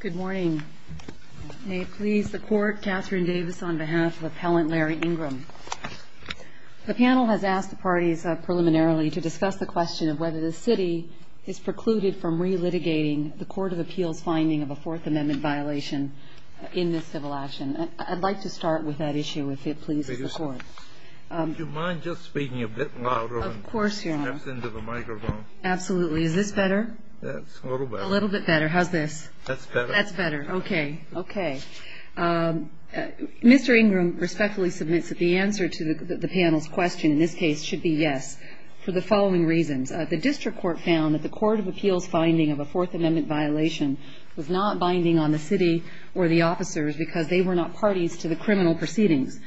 Good morning. May it please the Court, Katherine Davis on behalf of Appellant Larry Ingram. The panel has asked the parties preliminarily to discuss the question of whether the City is precluded from re-litigating the Court of Appeals finding of a Fourth Amendment violation in this civil action. I'd like to start with that issue, if it pleases the Court. Would you mind just speaking a bit louder? Of course, Your Honor. Steps into the microphone. Absolutely. Is this better? That's a little better. A little bit better. How's this? That's better. That's better. Okay. Okay. Mr. Ingram respectfully submits that the answer to the panel's question in this case should be yes for the following reasons. The District Court found that the Court of Appeals finding of a Fourth Amendment violation was not binding on the City or the officers because they were not parties to the criminal proceedings.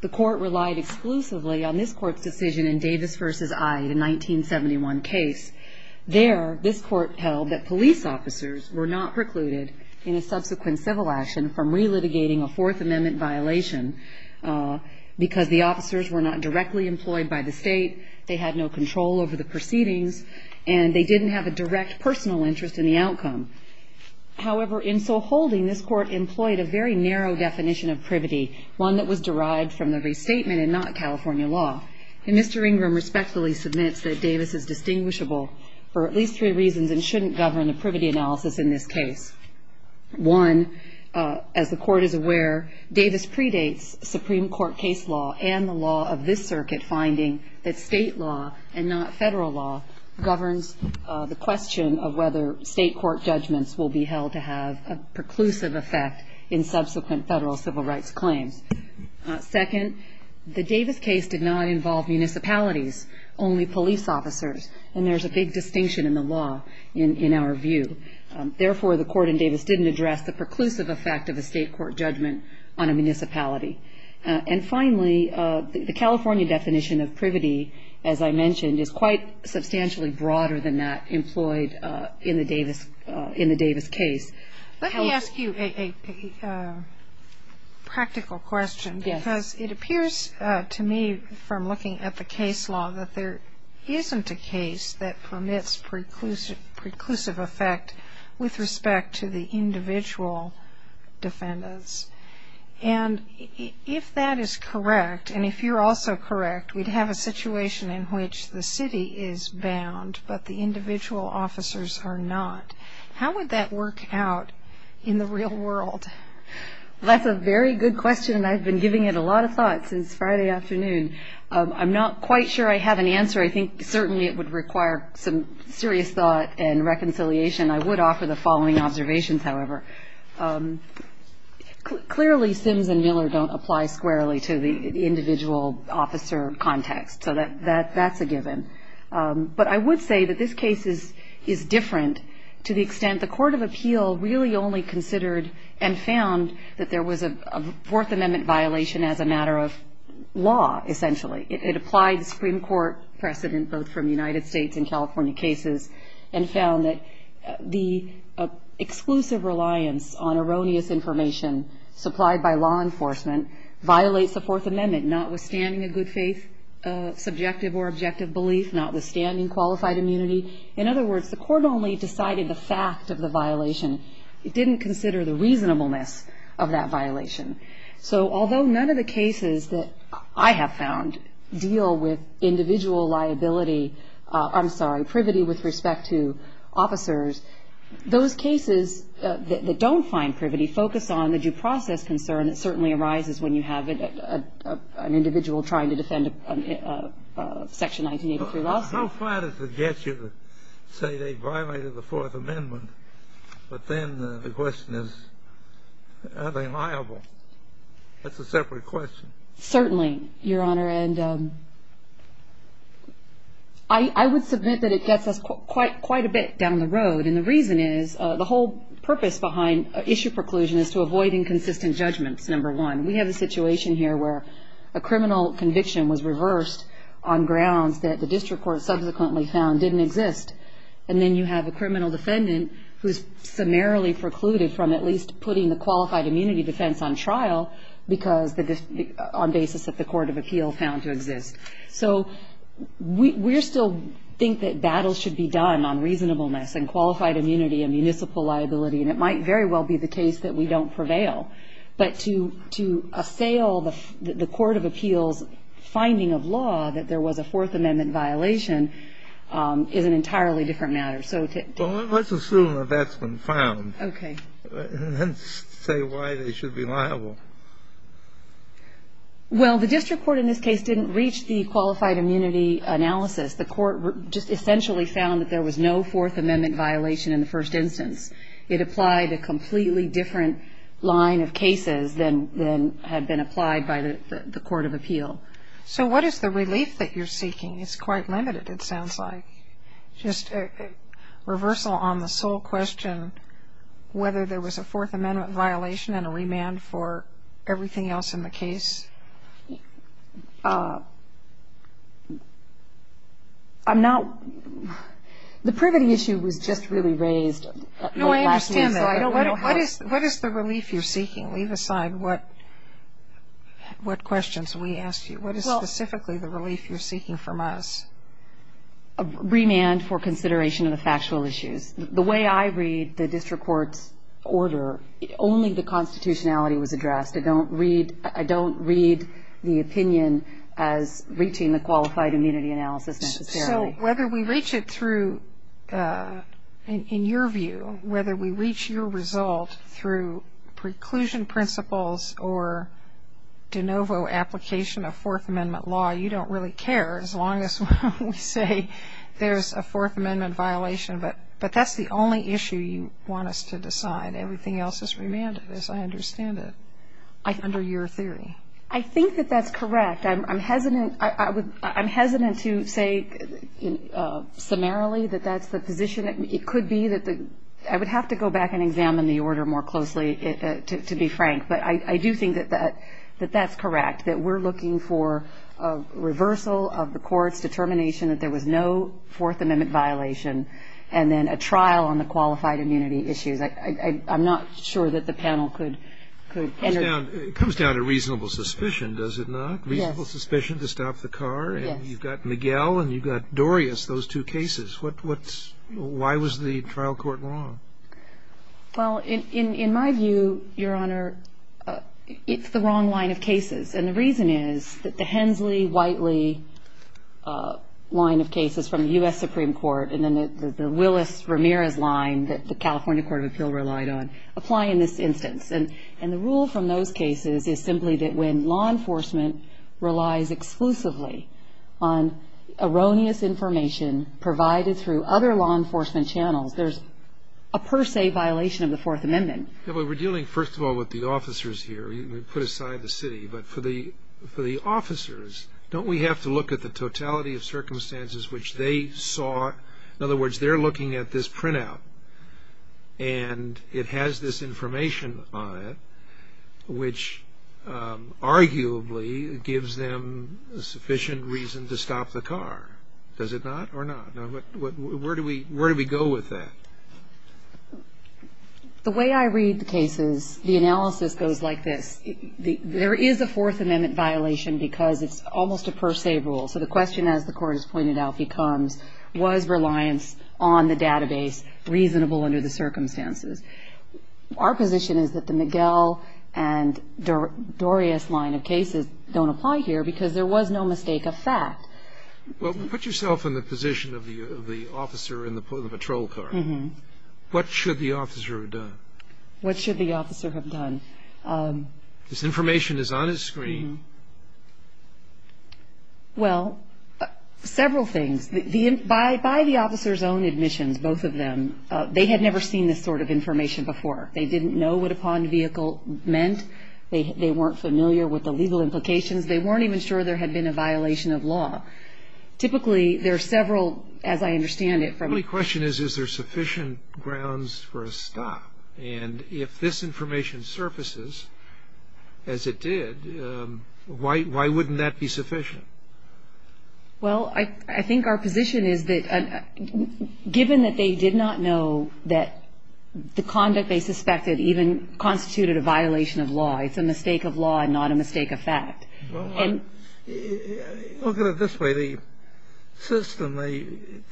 The Court relied exclusively on this Court's decision in Davis v. I, the 1971 case. There, this Court held that police officers were not precluded in a subsequent civil action from re-litigating a Fourth Amendment violation because the officers were not directly employed by the State, they had no control over the proceedings, and they didn't have a direct personal interest in the outcome. However, in so holding, this Court employed a very narrow definition of privity, one that was derived from the restatement and not California law. And Mr. Ingram respectfully submits that Davis is distinguishable for at least three reasons and shouldn't govern a privity analysis in this case. One, as the Court is aware, Davis predates Supreme Court case law and the law of this circuit, finding that State law and not Federal law governs the question of whether State court judgments will be held to have a preclusive effect in subsequent Federal civil rights claims. Second, the Davis case did not involve municipalities, only police officers, and there's a big distinction in the law in our view. Therefore, the Court in Davis didn't address the preclusive effect of a State court judgment on a municipality. And finally, the California definition of privity, as I mentioned, is quite substantially broader than that employed in the Davis case. Let me ask you a practical question because it appears to me from looking at the case law that there isn't a case that permits preclusive effect with respect to the individual defendants. And if that is correct, and if you're also correct, we'd have a situation in which the city is bound but the individual officers are not. How would that work out in the real world? That's a very good question, and I've been giving it a lot of thought since Friday afternoon. I'm not quite sure I have an answer. I think certainly it would require some serious thought and reconciliation. I would offer the following observations, however. Clearly, Sims and Miller don't apply squarely to the individual officer context, so that's a given. But I would say that this case is different to the extent the Court of Appeal really only considered and found that there was a Fourth Amendment violation as a matter of law, essentially. It applied the Supreme Court precedent both from the United States and California cases and found that the exclusive reliance on erroneous information supplied by law enforcement violates the Fourth Amendment, notwithstanding a good faith subjective or objective belief, notwithstanding qualified immunity. In other words, the Court only decided the fact of the violation. It didn't consider the reasonableness of that violation. So although none of the cases that I have found deal with individual liability, I'm sorry, privity with respect to officers, those cases that don't find privity focus on the due process concern and it certainly arises when you have an individual trying to defend a Section 1983 lawsuit. How far does it get you to say they violated the Fourth Amendment, but then the question is are they liable? That's a separate question. Certainly, Your Honor, and I would submit that it gets us quite a bit down the road, and the reason is the whole purpose behind issue preclusion is to avoid inconsistent judgments, number one. We have a situation here where a criminal conviction was reversed on grounds that the district court subsequently found didn't exist, and then you have a criminal defendant who is summarily precluded from at least putting the qualified immunity defense on trial on basis that the court of appeal found to exist. So we still think that battles should be done on reasonableness and qualified immunity and municipal liability, and it might very well be the case that we don't prevail. But to assail the court of appeal's finding of law that there was a Fourth Amendment violation is an entirely different matter. Well, let's assume that that's been found. Okay. And then say why they should be liable. Well, the district court in this case didn't reach the qualified immunity analysis. The court just essentially found that there was no Fourth Amendment violation in the first instance. It applied a completely different line of cases than had been applied by the court of appeal. So what is the relief that you're seeking? It's quite limited, it sounds like. Just a reversal on the sole question, whether there was a Fourth Amendment violation and a remand for everything else in the case. I'm not – the privity issue was just really raised. No, I understand that. What is the relief you're seeking? Leave aside what questions we asked you. What is specifically the relief you're seeking from us? A remand for consideration of the factual issues. The way I read the district court's order, only the constitutionality was addressed. I don't read the opinion as reaching the qualified immunity analysis necessarily. So whether we reach it through, in your view, whether we reach your result through preclusion principles or de novo application of Fourth Amendment law, you don't really care as long as we say there's a Fourth Amendment violation. But that's the only issue you want us to decide. Everything else is remanded, as I understand it, under your theory. I think that that's correct. I'm hesitant to say summarily that that's the position. It could be that the – I would have to go back and examine the order more closely, to be frank. But I do think that that's correct, that we're looking for a reversal of the court's determination that there was no Fourth Amendment violation and then a trial on the qualified immunity issues. I'm not sure that the panel could enter that. It comes down to reasonable suspicion, does it not? Yes. Reasonable suspicion to stop the car. Yes. And you've got Miguel and you've got Dorius, those two cases. Why was the trial court wrong? Well, in my view, Your Honor, it's the wrong line of cases. And the reason is that the Hensley-Whiteley line of cases from the U.S. Supreme Court and then the Willis-Ramirez line that the California Court of Appeal relied on apply in this instance. And the rule from those cases is simply that when law enforcement relies exclusively on erroneous information provided through other law enforcement channels, there's a per se violation of the Fourth Amendment. Yeah, but we're dealing, first of all, with the officers here. We put aside the city. But for the officers, don't we have to look at the totality of circumstances which they saw? In other words, they're looking at this printout and it has this information on it which arguably gives them sufficient reason to stop the car. Does it not or not? Now, where do we go with that? The way I read the cases, the analysis goes like this. There is a Fourth Amendment violation because it's almost a per se rule. So the question, as the Court has pointed out, becomes, was reliance on the database reasonable under the circumstances? Our position is that the McGill and Dorius line of cases don't apply here because there was no mistake of fact. Well, put yourself in the position of the officer in the patrol car. Mm-hmm. What should the officer have done? What should the officer have done? This information is on his screen. Well, several things. By the officer's own admissions, both of them, they had never seen this sort of information before. They didn't know what a pawned vehicle meant. They weren't familiar with the legal implications. They weren't even sure there had been a violation of law. Typically, there are several, as I understand it. The only question is, is there sufficient grounds for a stop? And if this information surfaces, as it did, why wouldn't that be sufficient? Well, I think our position is that given that they did not know that the conduct they suspected even constituted a violation of law, it's a mistake of law and not a mistake of fact. Well, look at it this way. The system they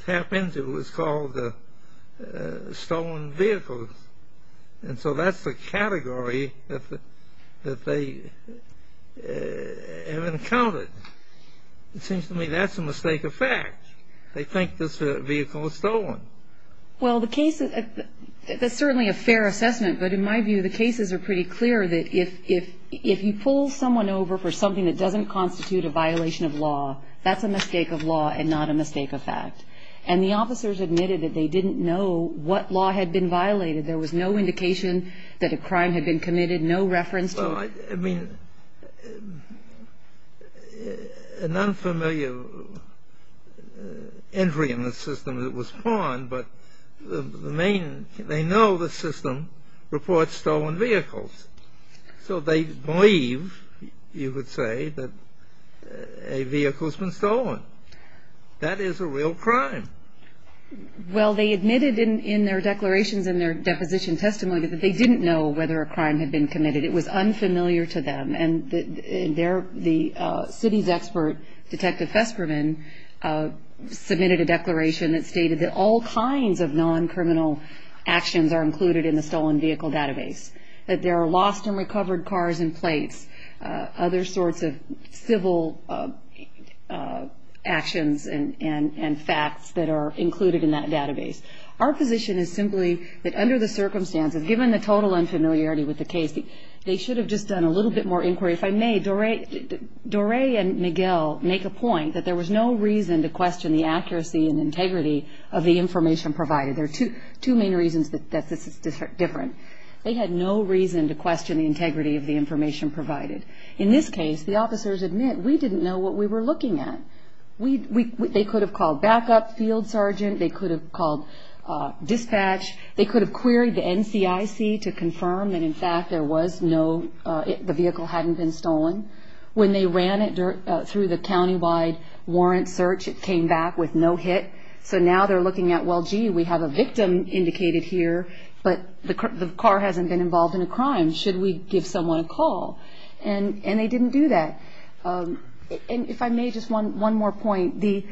tap into is called stolen vehicles. And so that's the category that they have encountered. It seems to me that's a mistake of fact. They think this vehicle was stolen. Well, the case is certainly a fair assessment, but in my view, the cases are pretty clear that if you pull someone over for something that doesn't constitute a violation of law, that's a mistake of law and not a mistake of fact. And the officers admitted that they didn't know what law had been violated. There was no indication that a crime had been committed, no reference to it. An unfamiliar entry in the system that was pawned, but the main they know the system reports stolen vehicles. So they believe, you would say, that a vehicle's been stolen. That is a real crime. Well, they admitted in their declarations and their deposition testimony that they didn't know whether a crime had been committed. It was unfamiliar to them. And the city's expert, Detective Feskerman, submitted a declaration that stated that all kinds of non-criminal actions are included in the stolen vehicle database, that there are lost and recovered cars and plates, other sorts of civil actions and facts that are included in that database. Our position is simply that under the circumstances, given the total unfamiliarity with the case, they should have just done a little bit more inquiry. If I may, Doré and Miguel make a point that there was no reason to question the accuracy and integrity of the information provided. There are two main reasons that this is different. They had no reason to question the integrity of the information provided. In this case, the officers admit, we didn't know what we were looking at. They could have called backup, field sergeant. They could have called dispatch. They could have queried the NCIC to confirm that, in fact, there was no, the vehicle hadn't been stolen. When they ran it through the countywide warrant search, it came back with no hit. So now they're looking at, well, gee, we have a victim indicated here, but the car hasn't been involved in a crime. Should we give someone a call? And they didn't do that. And if I may, just one more point. The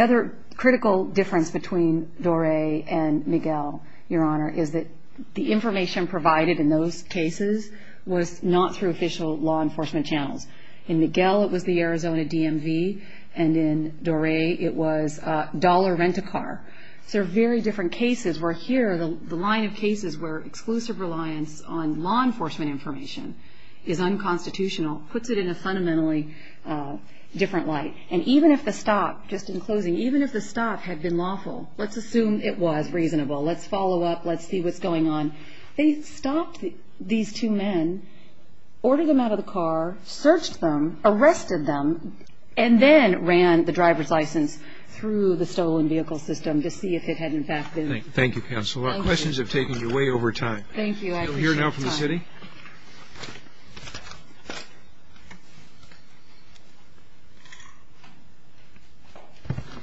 other critical difference between Doré and Miguel, Your Honor, is that the information provided in those cases was not through official law enforcement channels. In Miguel, it was the Arizona DMV, and in Doré, it was a dollar rent-a-car. So they're very different cases, where here, the line of cases where exclusive reliance on law enforcement information is unconstitutional puts it in a fundamentally different light. And even if the stop, just in closing, even if the stop had been lawful, let's assume it was reasonable. Let's follow up. Let's see what's going on. They stopped these two men, ordered them out of the car, searched them, arrested them, and then ran the driver's license through the stolen vehicle system to see if it had, in fact, been. Thank you, counsel. Our questions have taken you way over time. Thank you. We'll hear now from the city.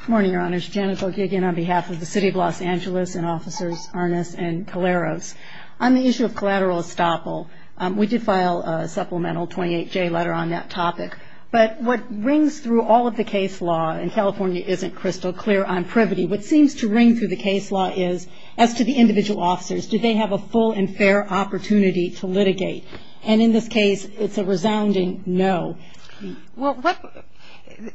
Good morning, Your Honors. Janet Boeke, again, on behalf of the City of Los Angeles and Officers Arnas and Caleros. On the issue of collateral estoppel, we did file a supplemental 28J letter on that topic. But what rings through all of the case law in California isn't crystal clear on privity. What seems to ring through the case law is, as to the individual officers, do they have a full and fair opportunity to litigate? And in this case, it's a resounding no. Well,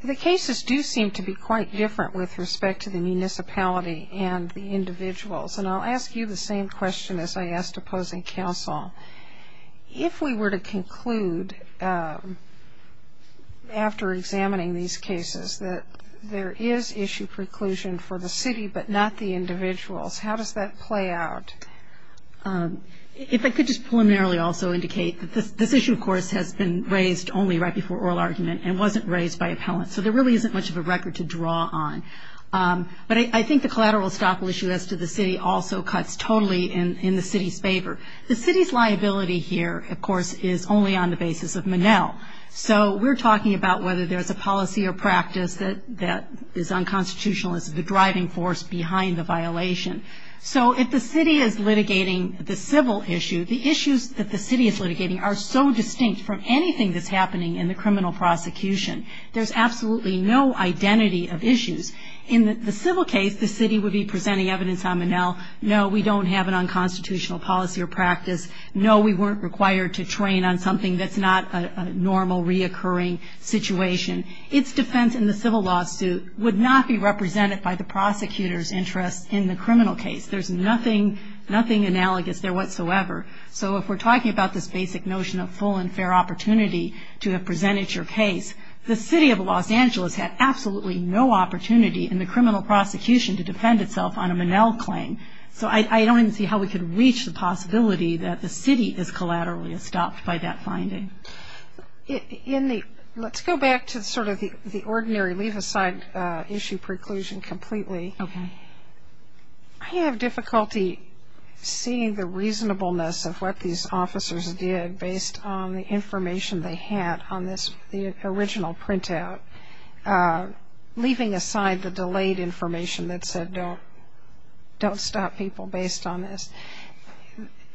the cases do seem to be quite different with respect to the municipality and the individuals. And I'll ask you the same question as I asked opposing counsel. If we were to conclude, after examining these cases, that there is issue preclusion for the city but not the individuals, how does that play out? If I could just preliminarily also indicate that this issue, of course, has been raised only right before oral argument and wasn't raised by appellants. So there really isn't much of a record to draw on. But I think the collateral estoppel issue as to the city also cuts totally in the city's favor. The city's liability here, of course, is only on the basis of Monell. So we're talking about whether there's a policy or practice that is unconstitutional as the driving force behind the violation. So if the city is litigating the civil issue, the issues that the city is litigating are so distinct from anything that's happening in the criminal prosecution. There's absolutely no identity of issues. No, we don't have an unconstitutional policy or practice. No, we weren't required to train on something that's not a normal reoccurring situation. Its defense in the civil lawsuit would not be represented by the prosecutor's interest in the criminal case. There's nothing analogous there whatsoever. So if we're talking about this basic notion of full and fair opportunity to have presented your case, the city of Los Angeles had absolutely no opportunity in the criminal prosecution to defend itself on a Monell claim. So I don't even see how we could reach the possibility that the city is collaterally estopped by that finding. Let's go back to sort of the ordinary leave aside issue preclusion completely. Okay. I have difficulty seeing the reasonableness of what these officers did based on the information they had on this original printout, leaving aside the delayed information that said don't stop people based on this.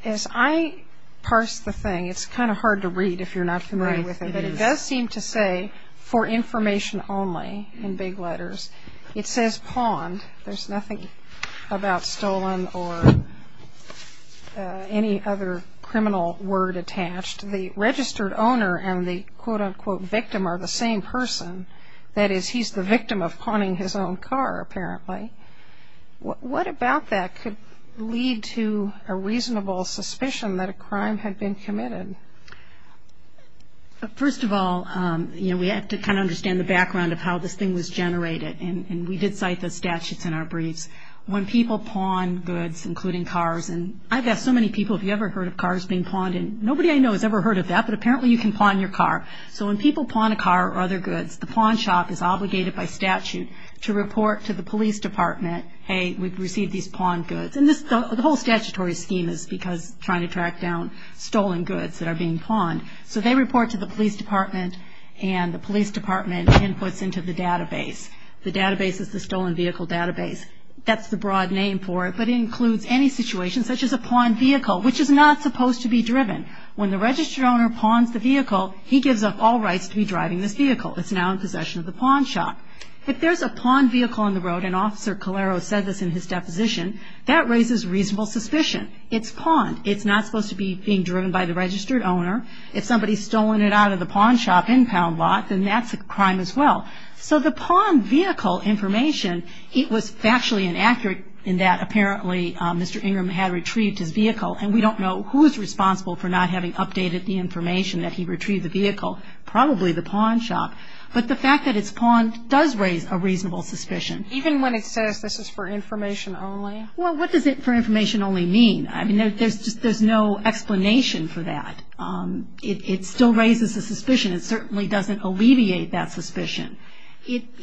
As I parse the thing, it's kind of hard to read if you're not familiar with it, but it does seem to say for information only in big letters. It says pawned. There's nothing about stolen or any other criminal word attached. The registered owner and the quote-unquote victim are the same person. That is, he's the victim of pawning his own car, apparently. What about that could lead to a reasonable suspicion that a crime had been committed? First of all, you know, we have to kind of understand the background of how this thing was generated, and we did cite the statutes in our briefs. When people pawn goods, including cars, and I've asked so many people, have you ever heard of cars being pawned, and nobody I know has ever heard of that, but apparently you can pawn your car. So when people pawn a car or other goods, the pawn shop is obligated by statute to report to the police department, hey, we've received these pawned goods. And the whole statutory scheme is because trying to track down stolen goods that are being pawned. So they report to the police department, and the police department inputs into the database. The database is the Stolen Vehicle Database. That's the broad name for it, but it includes any situation, such as a pawned vehicle, which is not supposed to be driven. When the registered owner pawns the vehicle, he gives up all rights to be driving this vehicle. It's now in possession of the pawn shop. If there's a pawned vehicle on the road, and Officer Calero said this in his deposition, that raises reasonable suspicion. It's pawned. It's not supposed to be being driven by the registered owner. If somebody's stolen it out of the pawn shop in Poundlot, then that's a crime as well. So the pawned vehicle information, it was factually inaccurate in that apparently Mr. Ingram had retrieved his vehicle, and we don't know who's responsible for not having updated the information that he retrieved the vehicle, probably the pawn shop. But the fact that it's pawned does raise a reasonable suspicion. Even when it says this is for information only? Well, what does it for information only mean? I mean, there's no explanation for that. It still raises a suspicion. It certainly doesn't alleviate that suspicion.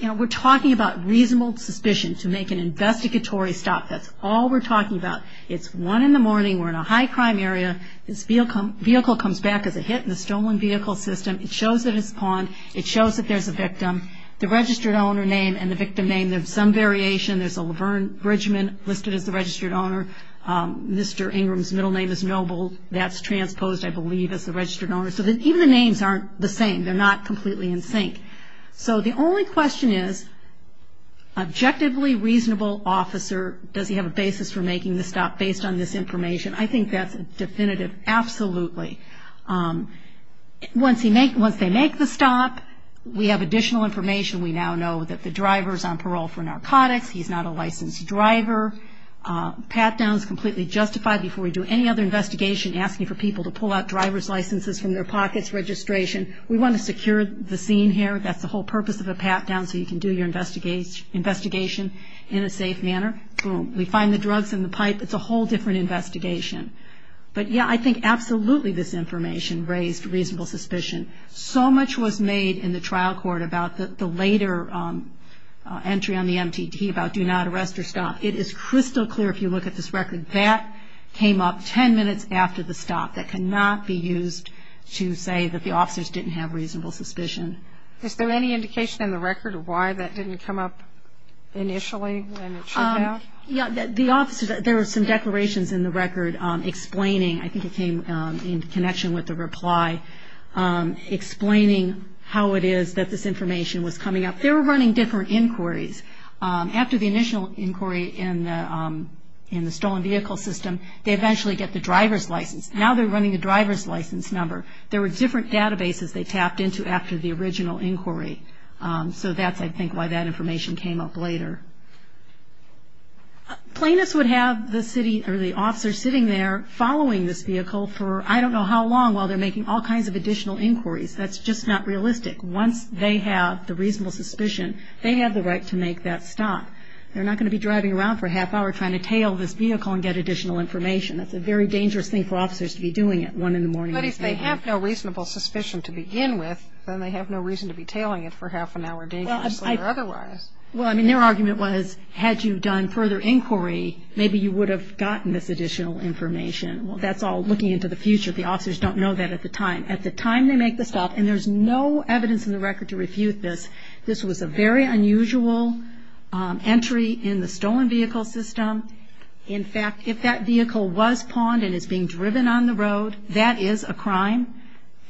We're talking about reasonable suspicion to make an investigatory stop. That's all we're talking about. It's 1 in the morning. We're in a high-crime area. This vehicle comes back as a hit in the stolen vehicle system. It shows that it's pawned. It shows that there's a victim. The registered owner name and the victim name, there's some variation. There's a Laverne Bridgman listed as the registered owner. Mr. Ingram's middle name is Noble. That's transposed, I believe, as the registered owner. So even the names aren't the same. They're not completely in sync. So the only question is, objectively reasonable officer, does he have a basis for making the stop based on this information? I think that's definitive, absolutely. Once they make the stop, we have additional information. We now know that the driver is on parole for narcotics. He's not a licensed driver. Patdown is completely justified before we do any other investigation asking for people to pull out driver's licenses from their pockets, registration. We want to secure the scene here. That's the whole purpose of a patdown, so you can do your investigation in a safe manner. Boom. We find the drugs in the pipe. It's a whole different investigation. But, yeah, I think absolutely this information raised reasonable suspicion. So much was made in the trial court about the later entry on the MTT about do not arrest or stop. It is crystal clear if you look at this record. That came up ten minutes after the stop. That cannot be used to say that the officers didn't have reasonable suspicion. Is there any indication in the record of why that didn't come up initially when it should have? Yeah, the officers, there are some declarations in the record explaining, I think it came in connection with the reply, explaining how it is that this information was coming up. They were running different inquiries. After the initial inquiry in the stolen vehicle system, they eventually get the driver's license. Now they're running the driver's license number. There were different databases they tapped into after the original inquiry. So that's, I think, why that information came up later. Plaintiffs would have the city or the officer sitting there following this vehicle for I don't know how long while they're making all kinds of additional inquiries. That's just not realistic. Once they have the reasonable suspicion, they have the right to make that stop. They're not going to be driving around for a half hour trying to tail this vehicle and get additional information. That's a very dangerous thing for officers to be doing at 1 in the morning. But if they have no reasonable suspicion to begin with, then they have no reason to be tailing it for half an hour dangerously or otherwise. Well, I mean, their argument was had you done further inquiry, maybe you would have gotten this additional information. That's all looking into the future. The officers don't know that at the time. At the time they make the stop, and there's no evidence in the record to refute this, this was a very unusual entry in the stolen vehicle system. In fact, if that vehicle was pawned and is being driven on the road, that is a crime.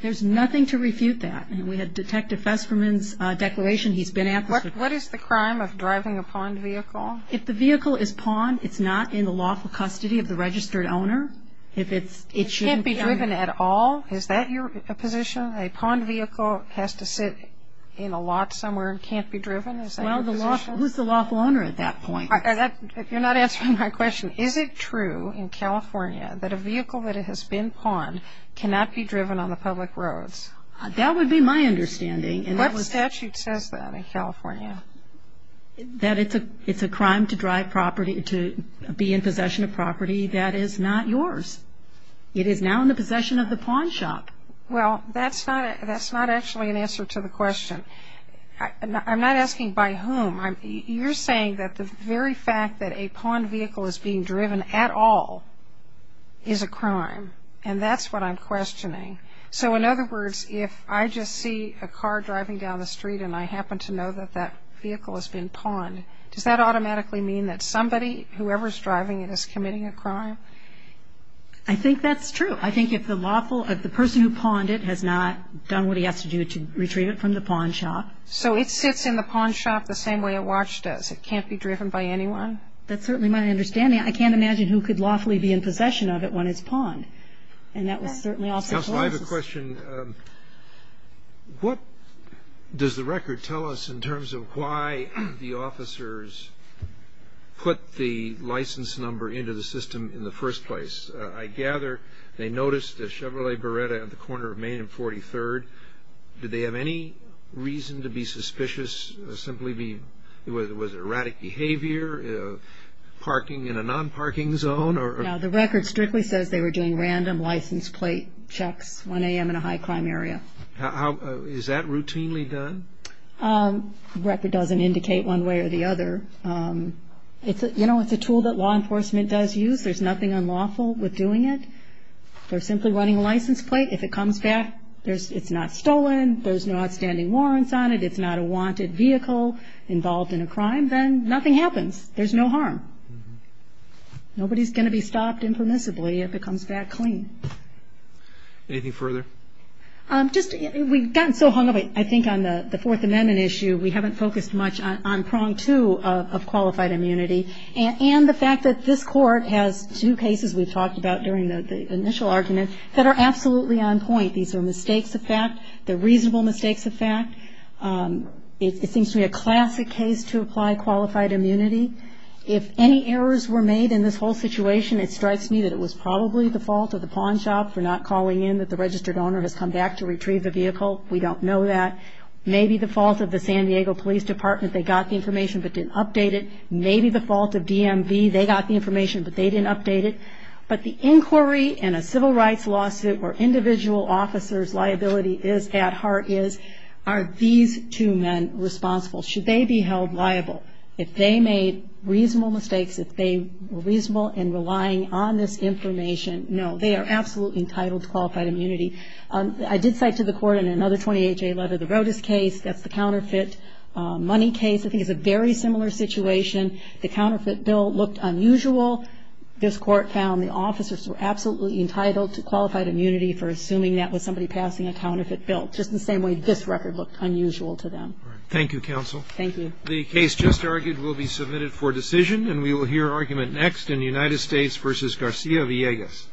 There's nothing to refute that. And we had Detective Festerman's declaration. He's been at this. What is the crime of driving a pawned vehicle? If the vehicle is pawned, it's not in the lawful custody of the registered owner. It can't be driven at all? Is that your position? A pawned vehicle has to sit in a lot somewhere and can't be driven? Is that your position? Well, who's the lawful owner at that point? You're not answering my question. Is it true in California that a vehicle that has been pawned cannot be driven on the public roads? That would be my understanding. What statute says that in California? That it's a crime to drive property, to be in possession of property that is not yours. It is now in the possession of the pawn shop. Well, that's not actually an answer to the question. I'm not asking by whom. You're saying that the very fact that a pawned vehicle is being driven at all is a crime, and that's what I'm questioning. So, in other words, if I just see a car driving down the street and I happen to know that that vehicle has been pawned, does that automatically mean that somebody, whoever's driving it, is committing a crime? I think that's true. I think if the lawful, if the person who pawned it has not done what he has to do to retrieve it from the pawn shop. So it sits in the pawn shop the same way a watch does. It can't be driven by anyone? That's certainly my understanding. I can't imagine who could lawfully be in possession of it when it's pawned, and that was certainly also close. Counsel, I have a question. What does the record tell us in terms of why the officers put the license number into the system in the first place? I gather they noticed a Chevrolet Beretta at the corner of Main and 43rd. Did they have any reason to be suspicious, simply be, was it erratic behavior, parking in a non-parking zone? No, the record strictly says they were doing random license plate checks 1 a.m. in a high crime area. Is that routinely done? The record doesn't indicate one way or the other. You know, it's a tool that law enforcement does use. There's nothing unlawful with doing it. They're simply running a license plate. If it comes back, it's not stolen, there's no outstanding warrants on it, it's not a wanted vehicle involved in a crime, then nothing happens. There's no harm. Nobody's going to be stopped impermissibly if it comes back clean. Anything further? Just, we've gotten so hung up, I think, on the Fourth Amendment issue, we haven't focused much on prong two of qualified immunity, and the fact that this Court has two cases we've talked about during the initial argument that are absolutely on point. These are mistakes of fact. They're reasonable mistakes of fact. It seems to me a classic case to apply qualified immunity. If any errors were made in this whole situation, it strikes me that it was probably the fault of the pawn shop for not calling in, that the registered owner has come back to retrieve the vehicle. We don't know that. Maybe the fault of the San Diego Police Department. They got the information but didn't update it. Maybe the fault of DMV. They got the information but they didn't update it. But the inquiry in a civil rights lawsuit where individual officer's liability is at heart is, are these two men responsible? Should they be held liable? If they made reasonable mistakes, if they were reasonable in relying on this information, no. They are absolutely entitled to qualified immunity. I did cite to the Court in another 20HA letter the Rodas case. That's the counterfeit money case. I think it's a very similar situation. The counterfeit bill looked unusual. This Court found the officers were absolutely entitled to qualified immunity for assuming that was somebody passing a counterfeit bill, just the same way this record looked unusual to them. Thank you, counsel. Thank you. The case just argued will be submitted for decision, and we will hear argument next in United States v. Garcia Villegas.